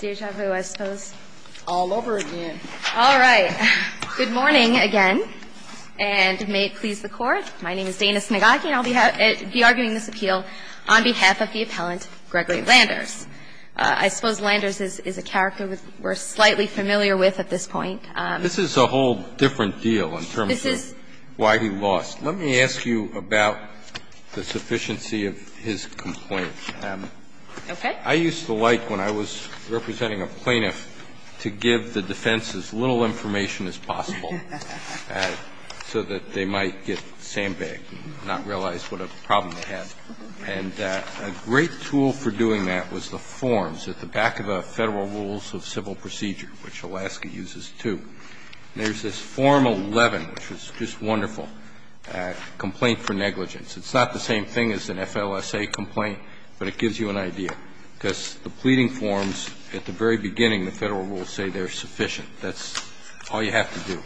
Deja vu, I suppose. All over again. All right. Good morning again, and may it please the Court. My name is Dana Snigocki, and I'll be arguing this appeal on behalf of the appellant Gregory Landers. I suppose Landers is a character we're slightly familiar with at this point. This is a whole different deal in terms of why he lost. Let me ask you about the sufficiency of his complaint. Okay. I used to like, when I was representing a plaintiff, to give the defense as little information as possible so that they might get sandbagged and not realize what a problem they have. And a great tool for doing that was the forms at the back of the Federal Rules of Civil Procedure, which Alaska uses, too. There's this Form 11, which is just wonderful, complaint for negligence. It's not the same thing as an FLSA complaint, but it gives you an idea. Because the pleading forms, at the very beginning, the Federal Rules say they're sufficient. That's all you have to do,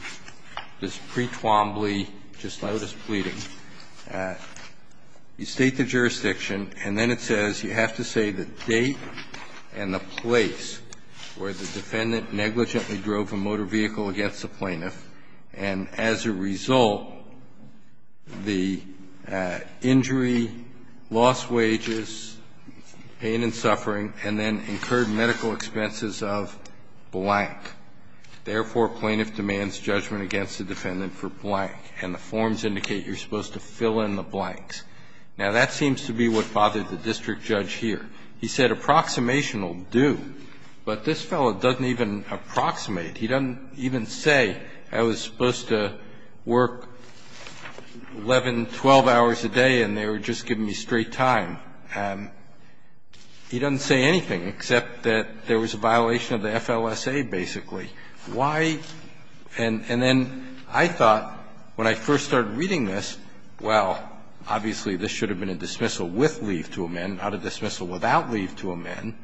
this pre-Twombly, just-notice pleading. You state the jurisdiction, and then it says you have to say the date and the place where the defendant negligently drove a motor vehicle against the plaintiff, and, as a result, the injury, lost wages, pain and suffering, and, of course, medical expenses of blank. Therefore, a plaintiff demands judgment against the defendant for blank, and the forms indicate you're supposed to fill in the blanks. Now, that seems to be what bothered the district judge here. He said, Approximation will do, but this fellow doesn't even approximate. He doesn't even say, I was supposed to work 11, 12 hours a day, and they were just giving me straight time. He doesn't say anything except that there was a violation of the FLSA, basically. Why? And then I thought, when I first started reading this, well, obviously, this should have been a dismissal with leave to amend, not a dismissal without leave to amend.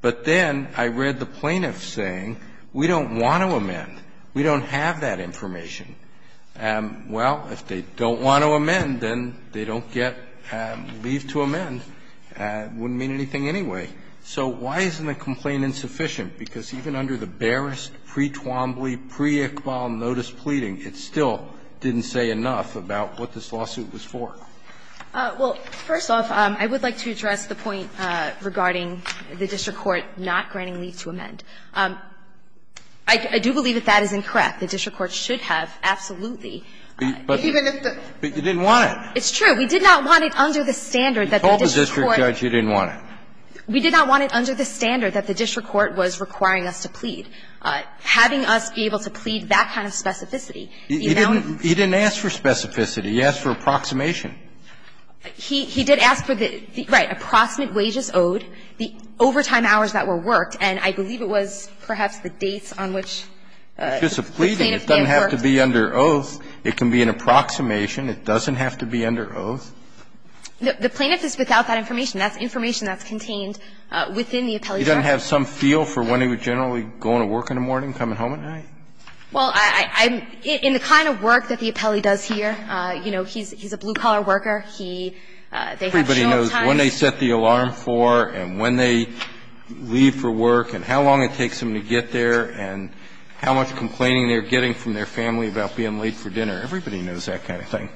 But then I read the plaintiff saying, we don't want to amend. We don't have that information. Well, if they don't want to amend, then they don't get leave to amend. It wouldn't mean anything anyway. So why isn't the complaint insufficient? Because even under the barest pre-Twombly, pre-Iqbal notice pleading, it still didn't say enough about what this lawsuit was for. Well, first off, I would like to address the point regarding the district court not granting leave to amend. I do believe that that is incorrect. The district court should have, absolutely. But you didn't want it. It's true. We did not want it under the standard that the district court. You told the district judge you didn't want it. We did not want it under the standard that the district court was requiring us to plead. Having us be able to plead that kind of specificity, the amount of. He didn't ask for specificity. He asked for approximation. He did ask for the, right, approximate wages owed, the overtime hours that were worked, and I believe it was perhaps the dates on which the plaintiff may have worked. It's just a pleading. It doesn't have to be under oath. It can be an approximation. It doesn't have to be under oath. The plaintiff is without that information. That's information that's contained within the appellee's record. He doesn't have some feel for when he would generally go into work in the morning, coming home at night? Well, I'm – in the kind of work that the appellee does here, you know, he's a blue collar worker. He – they have show-up times. Everybody knows when they set the alarm for and when they leave for work and how long it takes them to get there and how much complaining they're getting from their family about being late for dinner. Everybody knows that kind of thing.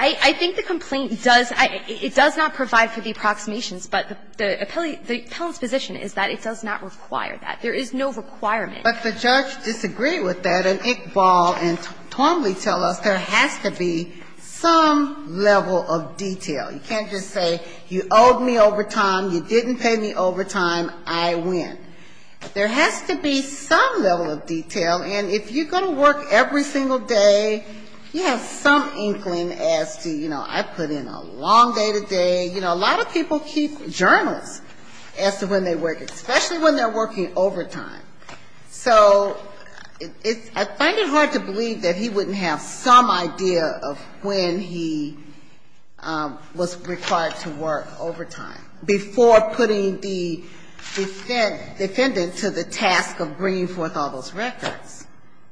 I think the complaint does – it does not provide for the approximations, but the appellee – the appellant's position is that it does not require that. There is no requirement. But the judge disagreed with that, and Iqbal and Twombly tell us there has to be some level of detail. You can't just say you owed me overtime, you didn't pay me overtime, I win. There has to be some level of detail. And if you're going to work every single day, you have some inkling as to, you know, I put in a long day to day. You know, a lot of people keep journals as to when they work, especially when they're working overtime. So it's – I find it hard to believe that he wouldn't have some idea of when he was required to work overtime before putting the defendant to the task of bringing forth the records.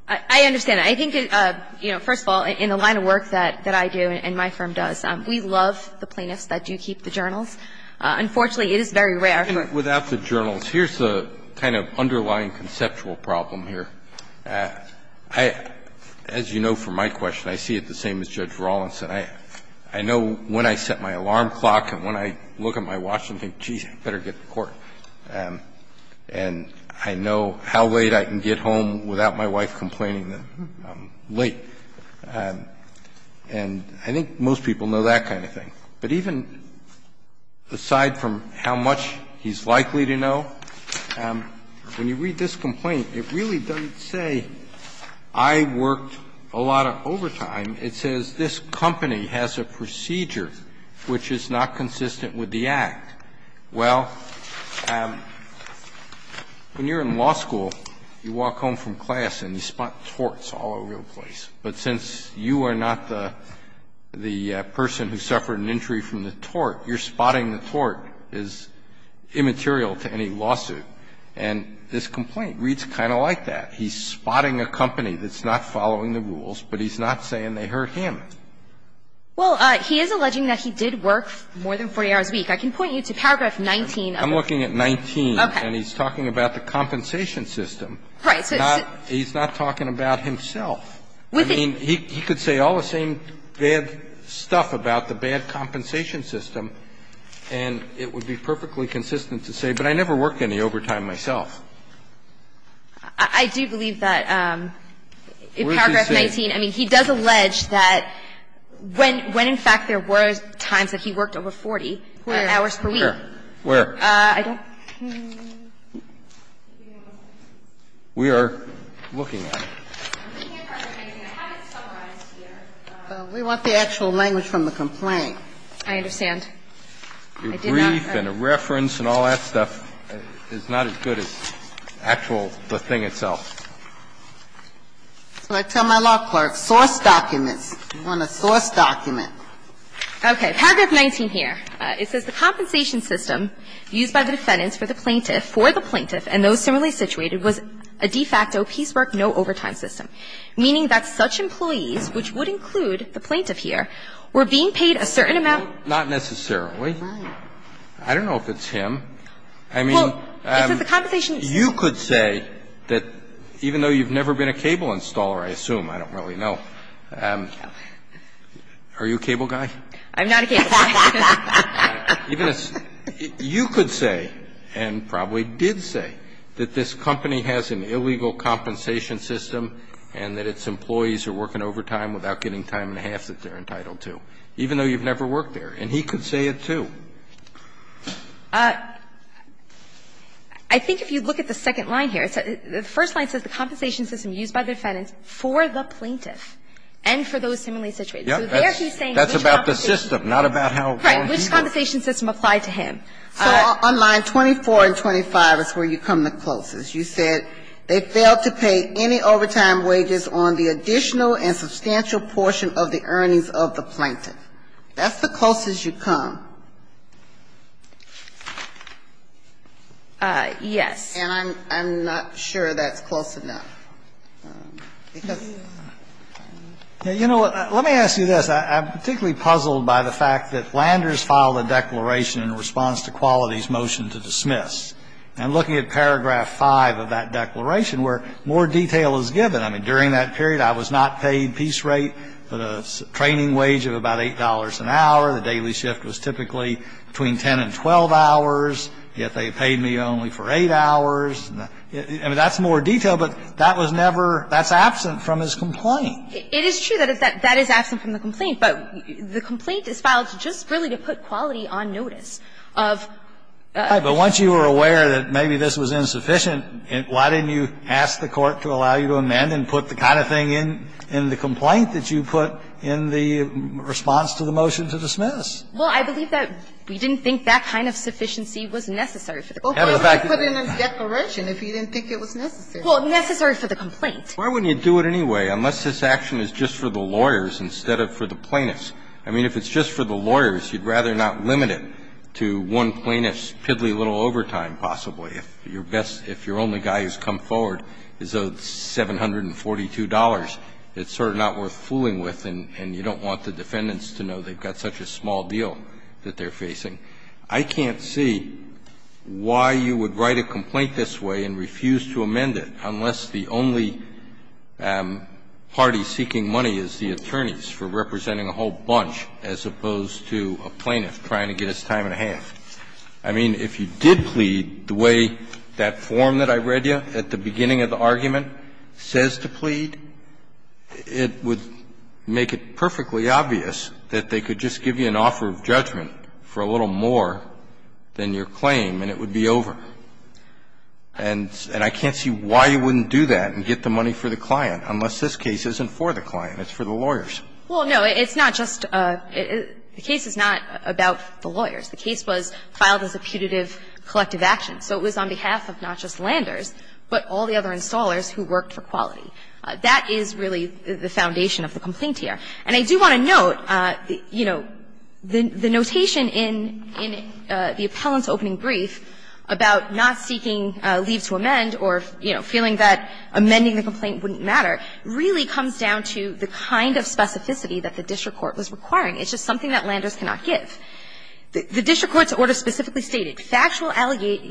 I understand that. I think, you know, first of all, in the line of work that I do and my firm does, we love the plaintiffs that do keep the journals. Unfortunately, it is very rare. Without the journals, here's the kind of underlying conceptual problem here. I – as you know from my question, I see it the same as Judge Rawlinson. I know when I set my alarm clock and when I look at my watch and think, geez, I better get to court. I know when I set my alarm clock and when I look at my watch and think, geez, I better get to court. I know when I set my alarm clock and when I look at my watch and think, geez, I better get to court. And I know how late I can get home without my wife complaining that I'm late. And I think most people know that kind of thing. But even aside from how much he's likely to know, when you read this complaint, it really doesn't say, I worked a lot of overtime. It says, this company has a procedure which is not consistent with the act. Well, when you're in law school, you walk home from class and you spot torts all over the place. But since you are not the person who suffered an injury from the tort, you're spotting the tort is immaterial to any lawsuit. And this complaint reads kind of like that. He's spotting a company that's not following the rules, but he's not saying they hurt him. Well, he is alleging that he did work more than 40 hours a week. I can point you to paragraph 19 of the complaint. I'm looking at 19. Okay. And he's talking about the compensation system. Right. So it's not he's not talking about himself. With the He could say all the same bad stuff about the bad compensation system. And it would be perfectly consistent to say, but I never worked any overtime myself. I do believe that in paragraph 19, I mean, he does allege that when in fact there were times that he worked over 40 hours per week. Where? I don't think we are looking at. We want the actual language from the complaint. I understand. Your brief and a reference and all that stuff is not as good as actual the thing itself. So I tell my law clerk, source documents. You want a source document. Okay. Paragraph 19 here. It says, The compensation system used by the defendants for the plaintiff, for the plaintiff and those similarly situated, was a de facto piecework no overtime system, meaning that such employees, which would include the plaintiff here, were being paid a certain amount. Not necessarily. I don't know if it's him. I mean, you could say that even though you've never been a cable installer, I assume, I don't really know. Are you a cable guy? I'm not a cable guy. You could say and probably did say that this company has an illegal compensation system and that its employees are working overtime without getting time and a half that they're entitled to. Even though you've never worked there. And he could say it, too. I think if you look at the second line here, the first line says the compensation system used by the defendants for the plaintiff and for those similarly situated. So there he's saying which compensation system. That's about the system, not about how he's doing it. Correct. Which compensation system applied to him. So on line 24 and 25 is where you come the closest. You said they failed to pay any overtime wages on the additional and substantial portion of the earnings of the plaintiff. That's the closest you come. Yes. And I'm not sure that's close enough. Because you know what? Let me ask you this. I'm particularly puzzled by the fact that Landers filed a declaration in response to Qualities' motion to dismiss. And looking at paragraph 5 of that declaration where more detail is given, I mean, during that period I was not paid piece rate, but a training wage of about $8 an hour. The daily shift was typically between 10 and 12 hours, yet they paid me only for 8 hours. I mean, that's more detail, but that was never – that's absent from his complaint. It is true that that is absent from the complaint, but the complaint is filed just really to put Quality on notice of – Right. But once you were aware that maybe this was insufficient, why didn't you ask the Court to allow you to amend and put the kind of thing in the complaint that you put in the response to the motion to dismiss? Well, I believe that we didn't think that kind of sufficiency was necessary for the complaint. Well, why would you put it in a declaration if you didn't think it was necessary? Well, necessary for the complaint. Why wouldn't you do it anyway, unless this action is just for the lawyers instead of for the plaintiffs? I mean, if it's just for the lawyers, you'd rather not limit it to one plaintiff's piddly little overtime, possibly, if your best – if your only guy who's come forward is owed $742, it's sort of not worth fooling with, and you don't want the defendants to know they've got such a small deal that they're facing. I can't see why you would write a complaint this way and refuse to amend it, unless the only party seeking money is the attorneys for representing a whole bunch as opposed to a plaintiff trying to get his time and a half. I mean, if you did plead the way that form that I read you at the beginning of the argument says to plead, it would make it perfectly obvious that they could just give you an offer of judgment for a little more than your claim and it would be over. And I can't see why you wouldn't do that and get the money for the client, unless this case isn't for the client. It's for the lawyers. Well, no. It's not just – the case is not about the lawyers. The case was filed as a putative collective action. So it was on behalf of not just Landers, but all the other installers who worked for Quality. That is really the foundation of the complaint here. And I do want to note, you know, the notation in the appellant's opening brief about not seeking leave to amend or, you know, feeling that amending the complaint wouldn't matter really comes down to the kind of specificity that the district court was requiring. It's just something that Landers cannot give. The district court's order specifically stated factual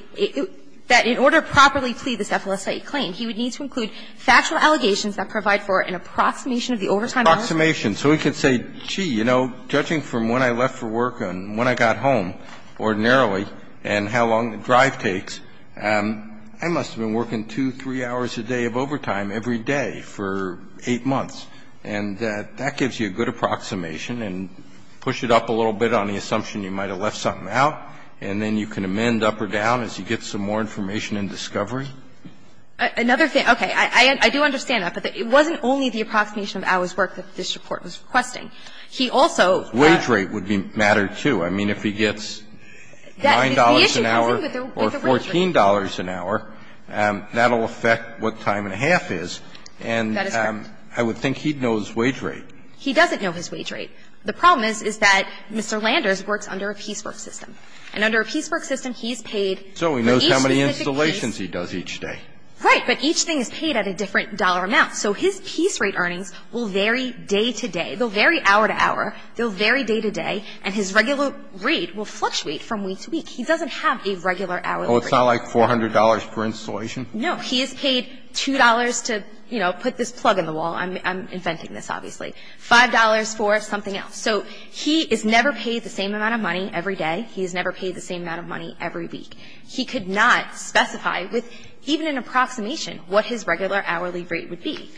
– that in order to properly plead this FLSA claim, he would need to include factual allegations that provide for an approximation of the overtime hours. Approximation. So he could say, gee, you know, judging from when I left for work and when I got home ordinarily and how long the drive takes, I must have been working 2, 3 hours a day of overtime every day for 8 months. And that gives you a good approximation, and push it up a little bit on the assumption you might have left something out, and then you can amend up or down as you get some more information and discovery. Another thing – okay. I do understand that, but it wasn't only the approximation of Al's work that the district court was requesting. He also had – Wage rate would matter, too. I mean, if he gets $9 an hour or $14 an hour, that will affect what time and a half is. And I would think he would have to do that. I think he'd know his wage rate. He doesn't know his wage rate. The problem is, is that Mr. Landers works under a piecework system. And under a piecework system, he's paid for each specific piece. So he knows how many installations he does each day. Right. But each thing is paid at a different dollar amount. So his piece rate earnings will vary day to day. They'll vary hour to hour. They'll vary day to day. And his regular rate will fluctuate from week to week. He doesn't have a regular hourly rate. Oh, it's not like $400 per installation? No. He is paid $2 to, you know, put this plug in the wall. I'm inventing this, obviously. $5 for something else. So he is never paid the same amount of money every day. He is never paid the same amount of money every week. He could not specify with even an approximation what his regular hourly rate would be.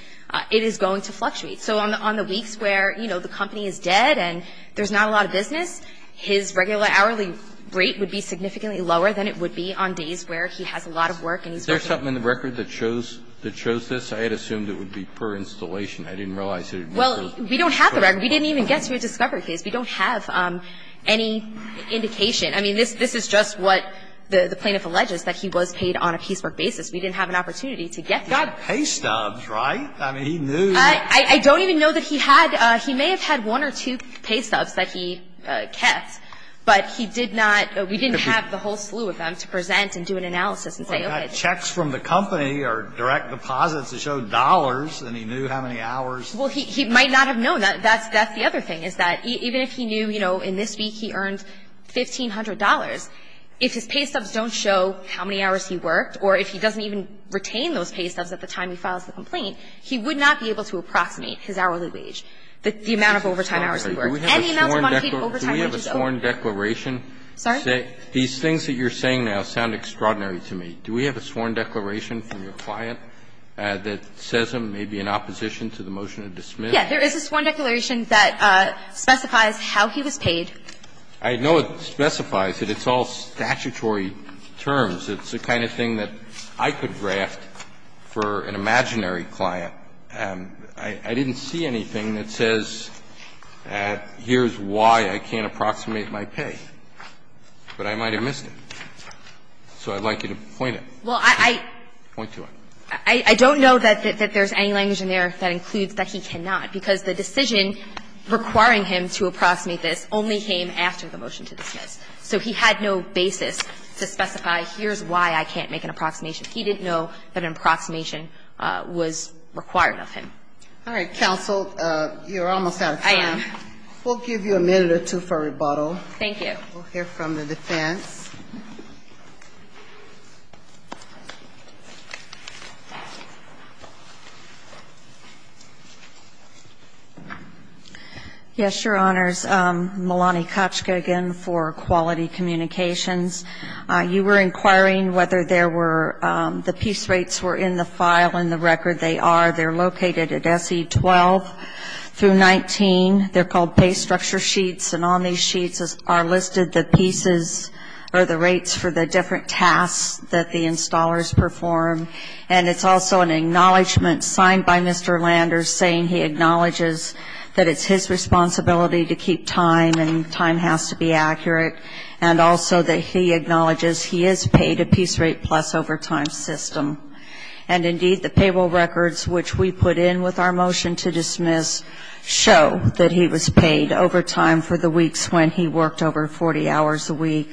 It is going to fluctuate. So on the weeks where, you know, the company is dead and there's not a lot of business, his regular hourly rate would be significantly lower than it would be on days where he has a lot of work and he's working. Is there something in the record that shows this? I had assumed it would be per installation. I didn't realize it. Well, we don't have the record. We didn't even get to a discovery case. We don't have any indication. I mean, this is just what the plaintiff alleges, that he was paid on a piecework basis. We didn't have an opportunity to get there. He got pay stubs, right? I mean, he knew. I don't even know that he had. He may have had one or two pay stubs that he kept, but he did not. We didn't have the whole slew of them to present and do an analysis and say, okay. I mean, the checks from the company are direct deposits to show dollars, and he knew how many hours. Well, he might not have known. That's the other thing is that even if he knew, you know, in this week he earned $1,500, if his pay stubs don't show how many hours he worked or if he doesn't even retain those pay stubs at the time he files the complaint, he would not be able to approximate his hourly wage, the amount of overtime hours he worked. Any amount of monthly overtime wages. Do we have a sworn declaration? Sorry? These things that you're saying now sound extraordinary to me. Do we have a sworn declaration from your client that says he may be in opposition to the motion to dismiss? Yes. There is a sworn declaration that specifies how he was paid. I know it specifies it. It's all statutory terms. It's the kind of thing that I could draft for an imaginary client. I didn't see anything that says here's why I can't approximate my pay. But I might have missed it. So I'd like you to point it. Well, I don't know that there's any language in there that includes that he cannot, because the decision requiring him to approximate this only came after the motion to dismiss. So he had no basis to specify here's why I can't make an approximation. He didn't know that an approximation was required of him. All right, counsel. You're almost out of time. I am. We'll give you a minute or two for rebuttal. Thank you. We'll hear from the defense. Yes, Your Honors. Melanie Kochka again for Quality Communications. You were inquiring whether there were the piece rates were in the file and the record they are. They're located at SE 12 through 19. They're called pay structure sheets. And on these sheets are listed the pieces or the rates for the different tasks that the installers perform. And it's also an acknowledgment signed by Mr. Lander saying he acknowledges that it's his responsibility to keep time and time has to be accurate. And also that he acknowledges he is paid a piece rate plus overtime system. And indeed, the payroll records which we put in with our motion to dismiss show that he was paid overtime for the weeks when he worked over 40 hours a week.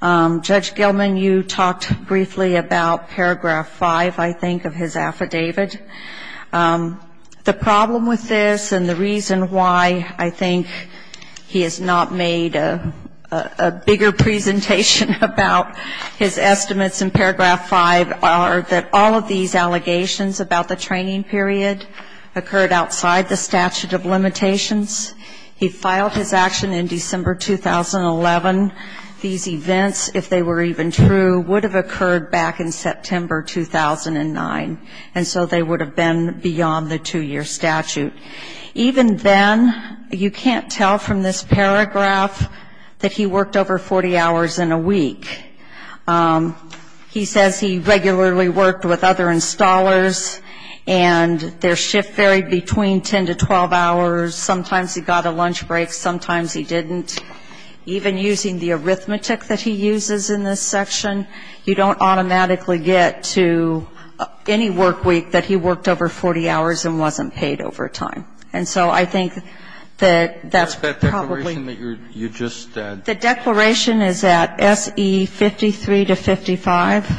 Judge Gilman, you talked briefly about paragraph 5, I think, of his affidavit. The problem with this and the reason why I think he has not made a bigger presentation about his estimates in paragraph 5 are that all of these allegations about the training period occurred outside the statute of limitations. He filed his action in December 2011. These events, if they were even true, would have occurred back in September 2009. And so they would have been beyond the two-year statute. Even then, you can't tell from this paragraph that he worked over 40 hours in a week. He says he regularly worked with other installers and their shift varied between 10 to 12 hours. Sometimes he got a lunch break, sometimes he didn't. Even using the arithmetic that he uses in this section, you don't automatically get to any work week that he worked over 40 hours and wasn't paid overtime. And so I think that that's probably the declaration is that SE4. 53 to 55.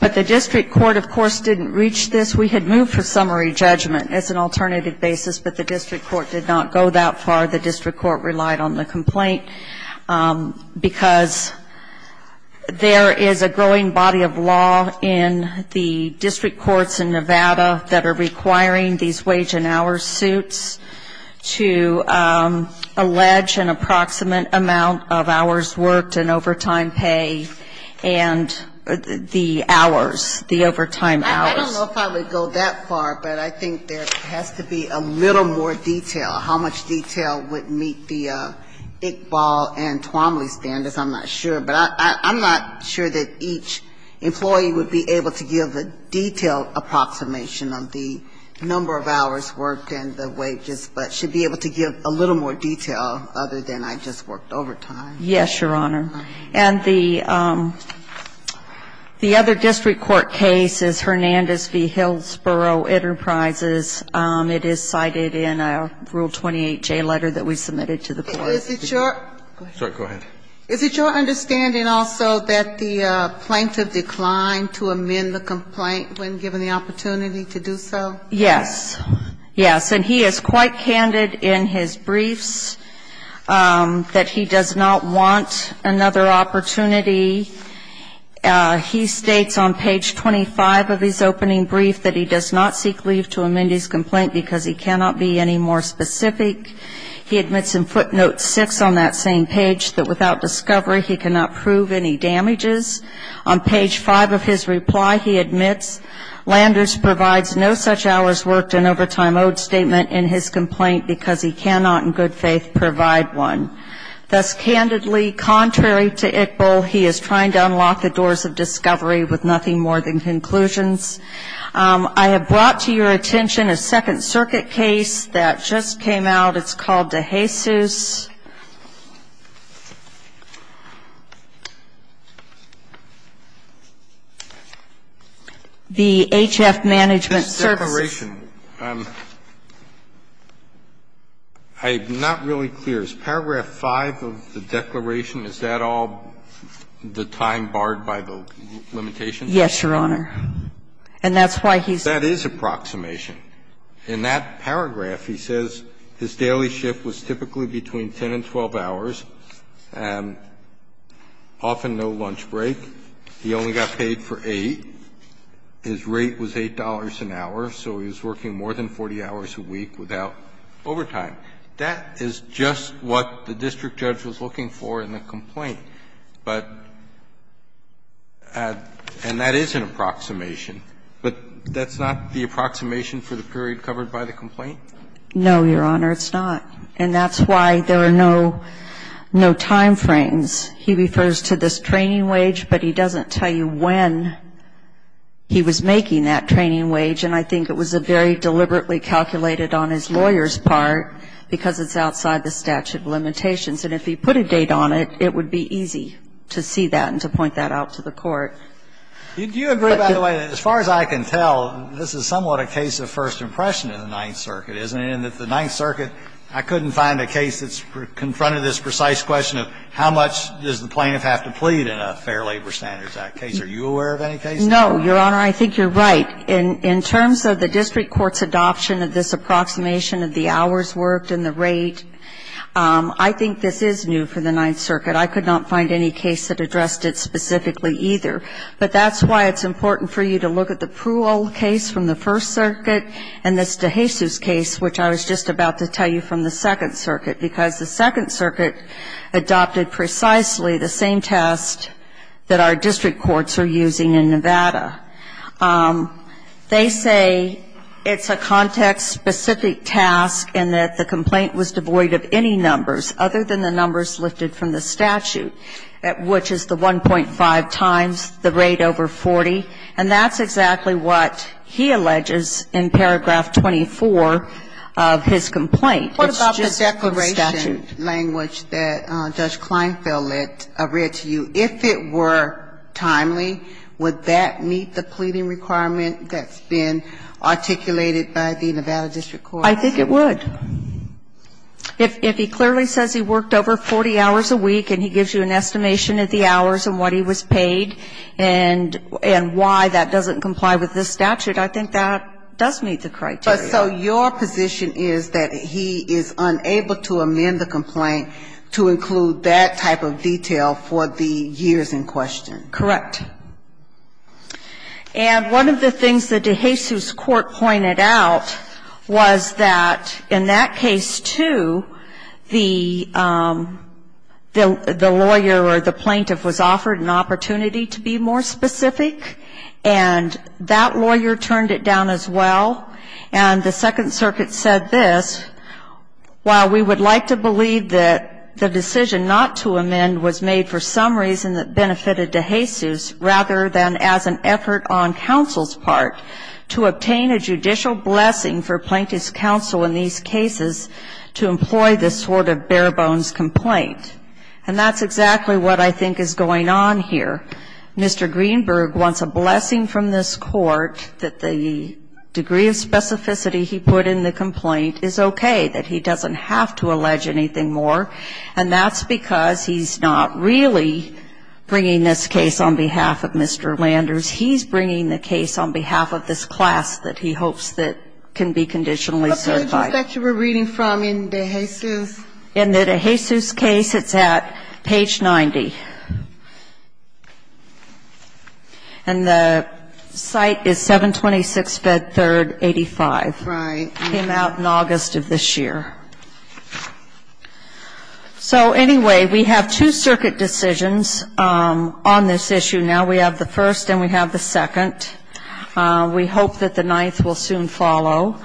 But the district court, of course, didn't reach this. We had moved for summary judgment as an alternative basis, but the district court did not go that far. The district court relied on the complaint because there is a growing body of law in the district courts in Nevada that are requiring these wage and hour suits to allege an approximate amount of hours worked and overtime pay and the hours, the overtime hours. I don't know if I would go that far, but I think there has to be a little more detail. How much detail would meet the Iqbal and Twomley standards, I'm not sure. But I'm not sure that each employee would be able to give a detailed approximation of the number of hours worked and the wages, but should be able to give a little more detail other than I just worked overtime. Yes, Your Honor. And the other district court case is Hernandez v. Hillsborough Enterprises. It is cited in a Rule 28J letter that we submitted to the court. Is it your understanding also that the plaintiff declined to amend the complaint when given the opportunity to do so? Yes. Yes. And he is quite candid in his briefs that he does not want another opportunity. He states on page 25 of his opening brief that he does not seek leave to amend his complaint because he cannot be any more specific. He admits in footnote 6 on that same page that without discovery he cannot prove any damages. On page 5 of his reply he admits Landers provides no such hours worked and overtime owed statement in his complaint because he cannot in good faith provide one. Thus candidly, contrary to Iqbal, he is trying to unlock the doors of discovery with nothing more than conclusions. I have brought to your attention a Second Circuit case that just came out. It's called DeJesus. The HF Management Services. This declaration, I'm not really clear. Is paragraph 5 of the declaration, is that all the time barred by the limitations? Yes, Your Honor. And that's why he's saying that. That is approximation. In that paragraph he says his daily shift was typically between 10 and 12 hours, often no lunch break. He only got paid for 8. His rate was $8 an hour, so he was working more than 40 hours a week without overtime. That is just what the district judge was looking for in the complaint. But at and that is an approximation, but that's not the approximation for the period covered by the complaint? No, Your Honor, it's not. And that's why there are no timeframes. He refers to this training wage, but he doesn't tell you when he was making that training wage, and I think it was a very deliberately calculated on his lawyer's part because it's outside the statute of limitations. And if he put a date on it, it would be easy to see that and to point that out to the court. Do you agree, by the way, that as far as I can tell, this is somewhat a case of first impression in the Ninth Circuit, isn't it, in that the Ninth Circuit, I couldn't find a case that's confronted this precise question of how much does the plaintiff have to plead in a Fair Labor Standards Act case? Are you aware of any cases? No, Your Honor, I think you're right. In terms of the district court's adoption of this approximation of the hours worked and the rate, I think this is new for the Ninth Circuit. I could not find any case that addressed it specifically either. But that's why it's important for you to look at the Pruol case from the First Circuit and this DeJesus case, which I was just about to tell you from the Second Circuit, because the Second Circuit adopted precisely the same test that our district courts are using in Nevada. They say it's a context-specific task and that the complaint was devoid of any numbers other than the numbers lifted from the statute, which is the 1.5 times the rate over 40. And that's exactly what he alleges in paragraph 24 of his complaint. It's just the statute. What about the declaration language that Judge Kleinfeld read to you? If it were timely, would that meet the pleading requirement that's been articulated by the Nevada district court? I think it would. If he clearly says he worked over 40 hours a week and he gives you an estimation of the hours and what he was paid and why that doesn't comply with this statute, I think that does meet the criteria. But so your position is that he is unable to amend the complaint to include that type of detail for the years in question? Correct. And one of the things the DeJesus court pointed out was that in the case of the plaintiff, in that case too, the lawyer or the plaintiff was offered an opportunity to be more specific, and that lawyer turned it down as well. And the Second Circuit said this, while we would like to believe that the decision not to amend was made for some reason that benefited DeJesus rather than as an effort on counsel's part to obtain a judicial blessing for plaintiff's counsel in these cases to employ this sort of bare-bones complaint. And that's exactly what I think is going on here. Mr. Greenberg wants a blessing from this court that the degree of specificity he put in the complaint is okay, that he doesn't have to allege anything more. And that's because he's not really bringing this case on behalf of Mr. Landers. He's bringing the case on behalf of this class that he hopes that can be conditionally certified. What page is that you were reading from in DeJesus? In the DeJesus case, it's at page 90. And the site is 726 Bed 3rd, 85. Right. Came out in August of this year. So, anyway, we have two circuit decisions on this issue now. We have the first and we have the second. We hope that the ninth will soon follow.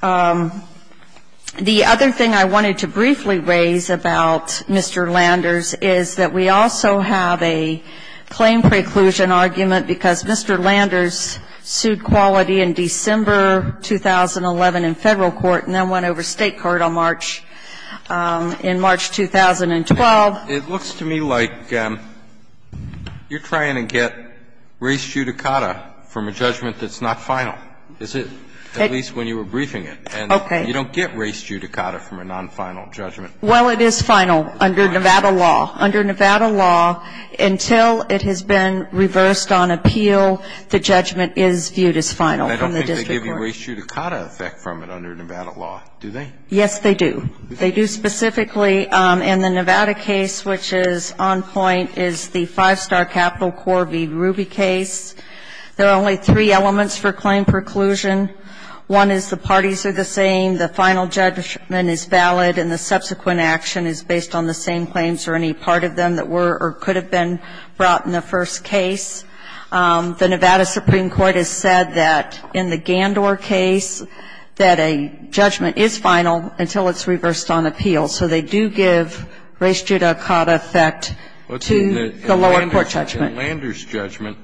The other thing I wanted to briefly raise about Mr. Landers is that we also have a claim preclusion argument because Mr. Landers sued Quality in December 2011 in Federal Court and then went over State court on March, in March 2012. It looks to me like you're trying to get res judicata from a judgment that's not final. Is it? At least when you were briefing it. Okay. And you don't get res judicata from a non-final judgment. Well, it is final under Nevada law. Under Nevada law, until it has been reversed on appeal, the judgment is viewed as final from the district court. I don't think they give you res judicata effect from it under Nevada law, do they? Yes, they do. They do specifically in the Nevada case, which is on point, is the five-star capital core v. Ruby case. There are only three elements for claim preclusion. One is the parties are the same, the final judgment is valid, and the subsequent action is based on the same claims or any part of them that were or could have been brought in the first case. The Nevada Supreme Court has said that in the Gandor case that a judgment is final until it's reversed on appeal. So they do give res judicata effect to the lower court judgment. But in Landers' judgment,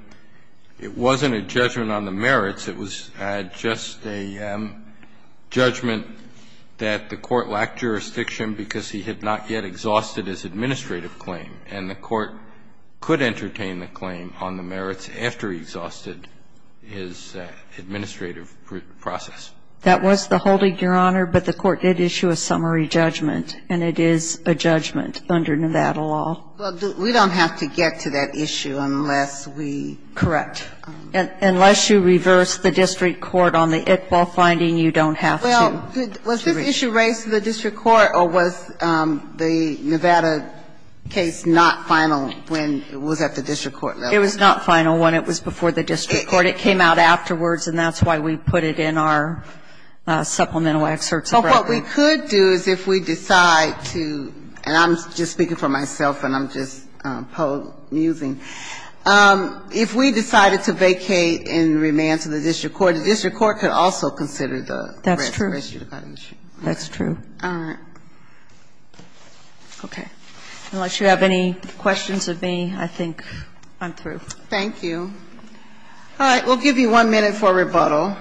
it wasn't a judgment on the merits, it was just a judgment that the Court lacked jurisdiction because he had not yet exhausted his administrative claim, and the Court could entertain the claim on the merits after he exhausted his administrative process. That was the holding, Your Honor, but the Court did issue a summary judgment, and it is a judgment under Nevada law. Well, we don't have to get to that issue unless we do. Correct. Unless you reverse the district court on the Iqbal finding, you don't have to. Well, was this issue raised to the district court, or was the Nevada case not final when it was at the district court level? It was not final when it was before the district court. It came out afterwards, and that's why we put it in our supplemental excerpts of Brethren. But what we could do is if we decide to, and I'm just speaking for myself and I'm just amusing, if we decided to vacate in remand to the district court, the district court could also consider the res judicata issue. That's true. All right. Okay. Unless you have any questions of me, I think I'm through. Thank you. All right. We'll give you one minute for rebuttal.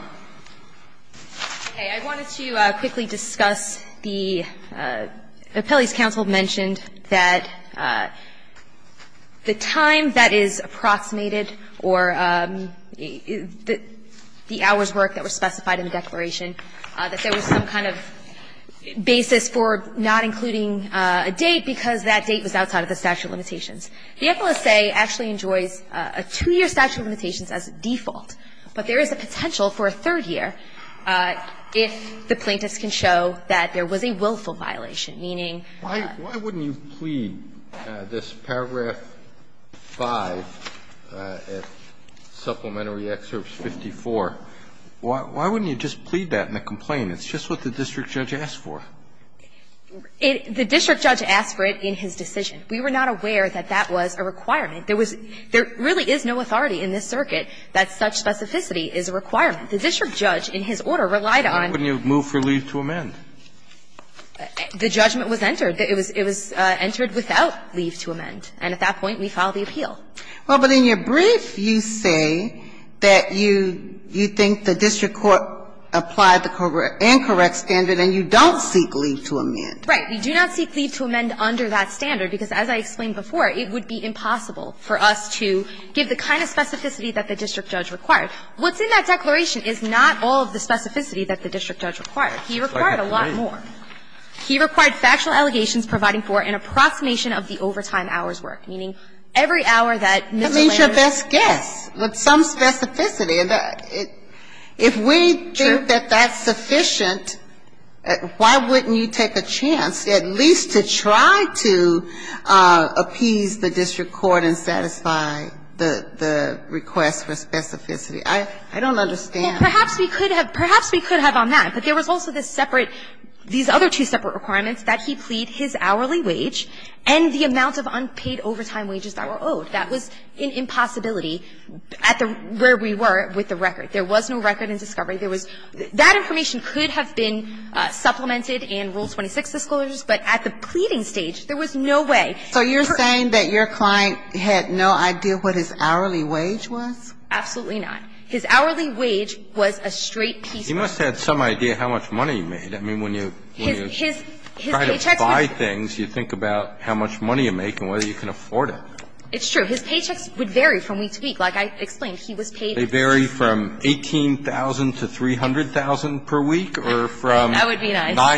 Okay. I wanted to quickly discuss the appellee's counsel mentioned that the time that is approximated or the hours worked that were specified in the declaration, that there was some kind of basis for not including a date, because that date was outside of the statute of limitations. The FLSA actually enjoys a 2-year statute of limitations as default, but there is a potential for a 3rd year if the plaintiffs can show that there was a willful violation, meaning the FLSA could not include a date. Why wouldn't you plead this paragraph 5, Supplementary Excerpts 54, why wouldn't you just plead that in a complaint? It's just what the district judge asked for. The district judge asked for it in his decision. We were not aware that that was a requirement. There was no authority in this circuit that such specificity is a requirement. The district judge, in his order, relied on the judgment was entered. It was entered without leave to amend, and at that point, we filed the appeal. Well, but in your brief, you say that you think the district court applied the incorrect standard and you don't seek leave to amend. Right. We do not seek leave to amend under that standard, because as I explained before, it would be impossible for us to give the kind of specificity that the district judge required. What's in that declaration is not all of the specificity that the district judge required. He required a lot more. He required factual allegations providing for an approximation of the overtime hours' worth, meaning every hour that Ms. O'Leary was there. That's your best guess, but some specificity. If we think that that's sufficient, why wouldn't you take a chance at least to try to appease the district court and satisfy the request for specificity? I don't understand. Well, perhaps we could have – perhaps we could have on that, but there was also this separate – these other two separate requirements that he plead his hourly wage and the amount of unpaid overtime wages that were owed. That was an impossibility at the – where we were with the record. There was no record in discovery. There was – that information could have been supplemented in Rule 26 of the sclera, but at the pleading stage, there was no way. So you're saying that your client had no idea what his hourly wage was? Absolutely not. His hourly wage was a straight piece of it. He must have had some idea how much money you made. I mean, when you – when you try to buy things, you think about how much money you make and whether you can afford it. It's true. His paychecks would vary from week to week. Like I explained, he was paid – That would be nice. No,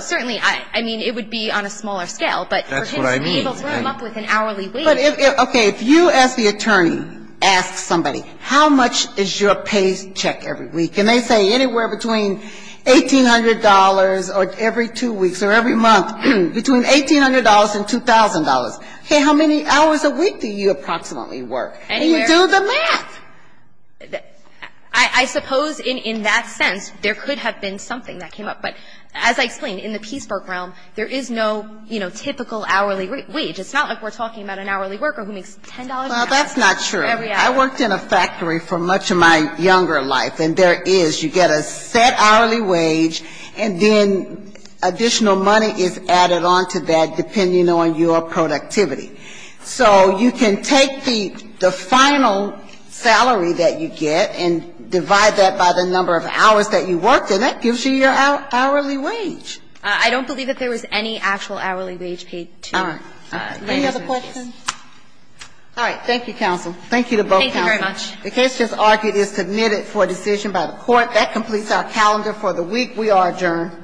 certainly. I mean, it would be on a smaller scale, but for him to be able to come up with an hourly wage – But if – okay, if you, as the attorney, ask somebody, how much is your paycheck every week, and they say anywhere between $1,800 or every two weeks or every month, between $1,800 and $2,000, how many hours a week do you approximately work? And you do the math. I suppose in that sense, there could have been something that came up. But as I explained, in the Peaceburg realm, there is no, you know, typical hourly wage. It's not like we're talking about an hourly worker who makes $10 an hour. Well, that's not true. I worked in a factory for much of my younger life, and there is. You get a set hourly wage, and then additional money is added onto that, depending on your productivity. So you can take the final salary that you get and divide that by the number of hours that you worked, and that gives you your hourly wage. I don't believe that there was any actual hourly wage paid to the plaintiff. Any other questions? All right. Thank you, counsel. Thank you to both counsels. Thank you very much. The case just argued is submitted for decision by the court. That completes our calendar for the week. We are adjourned.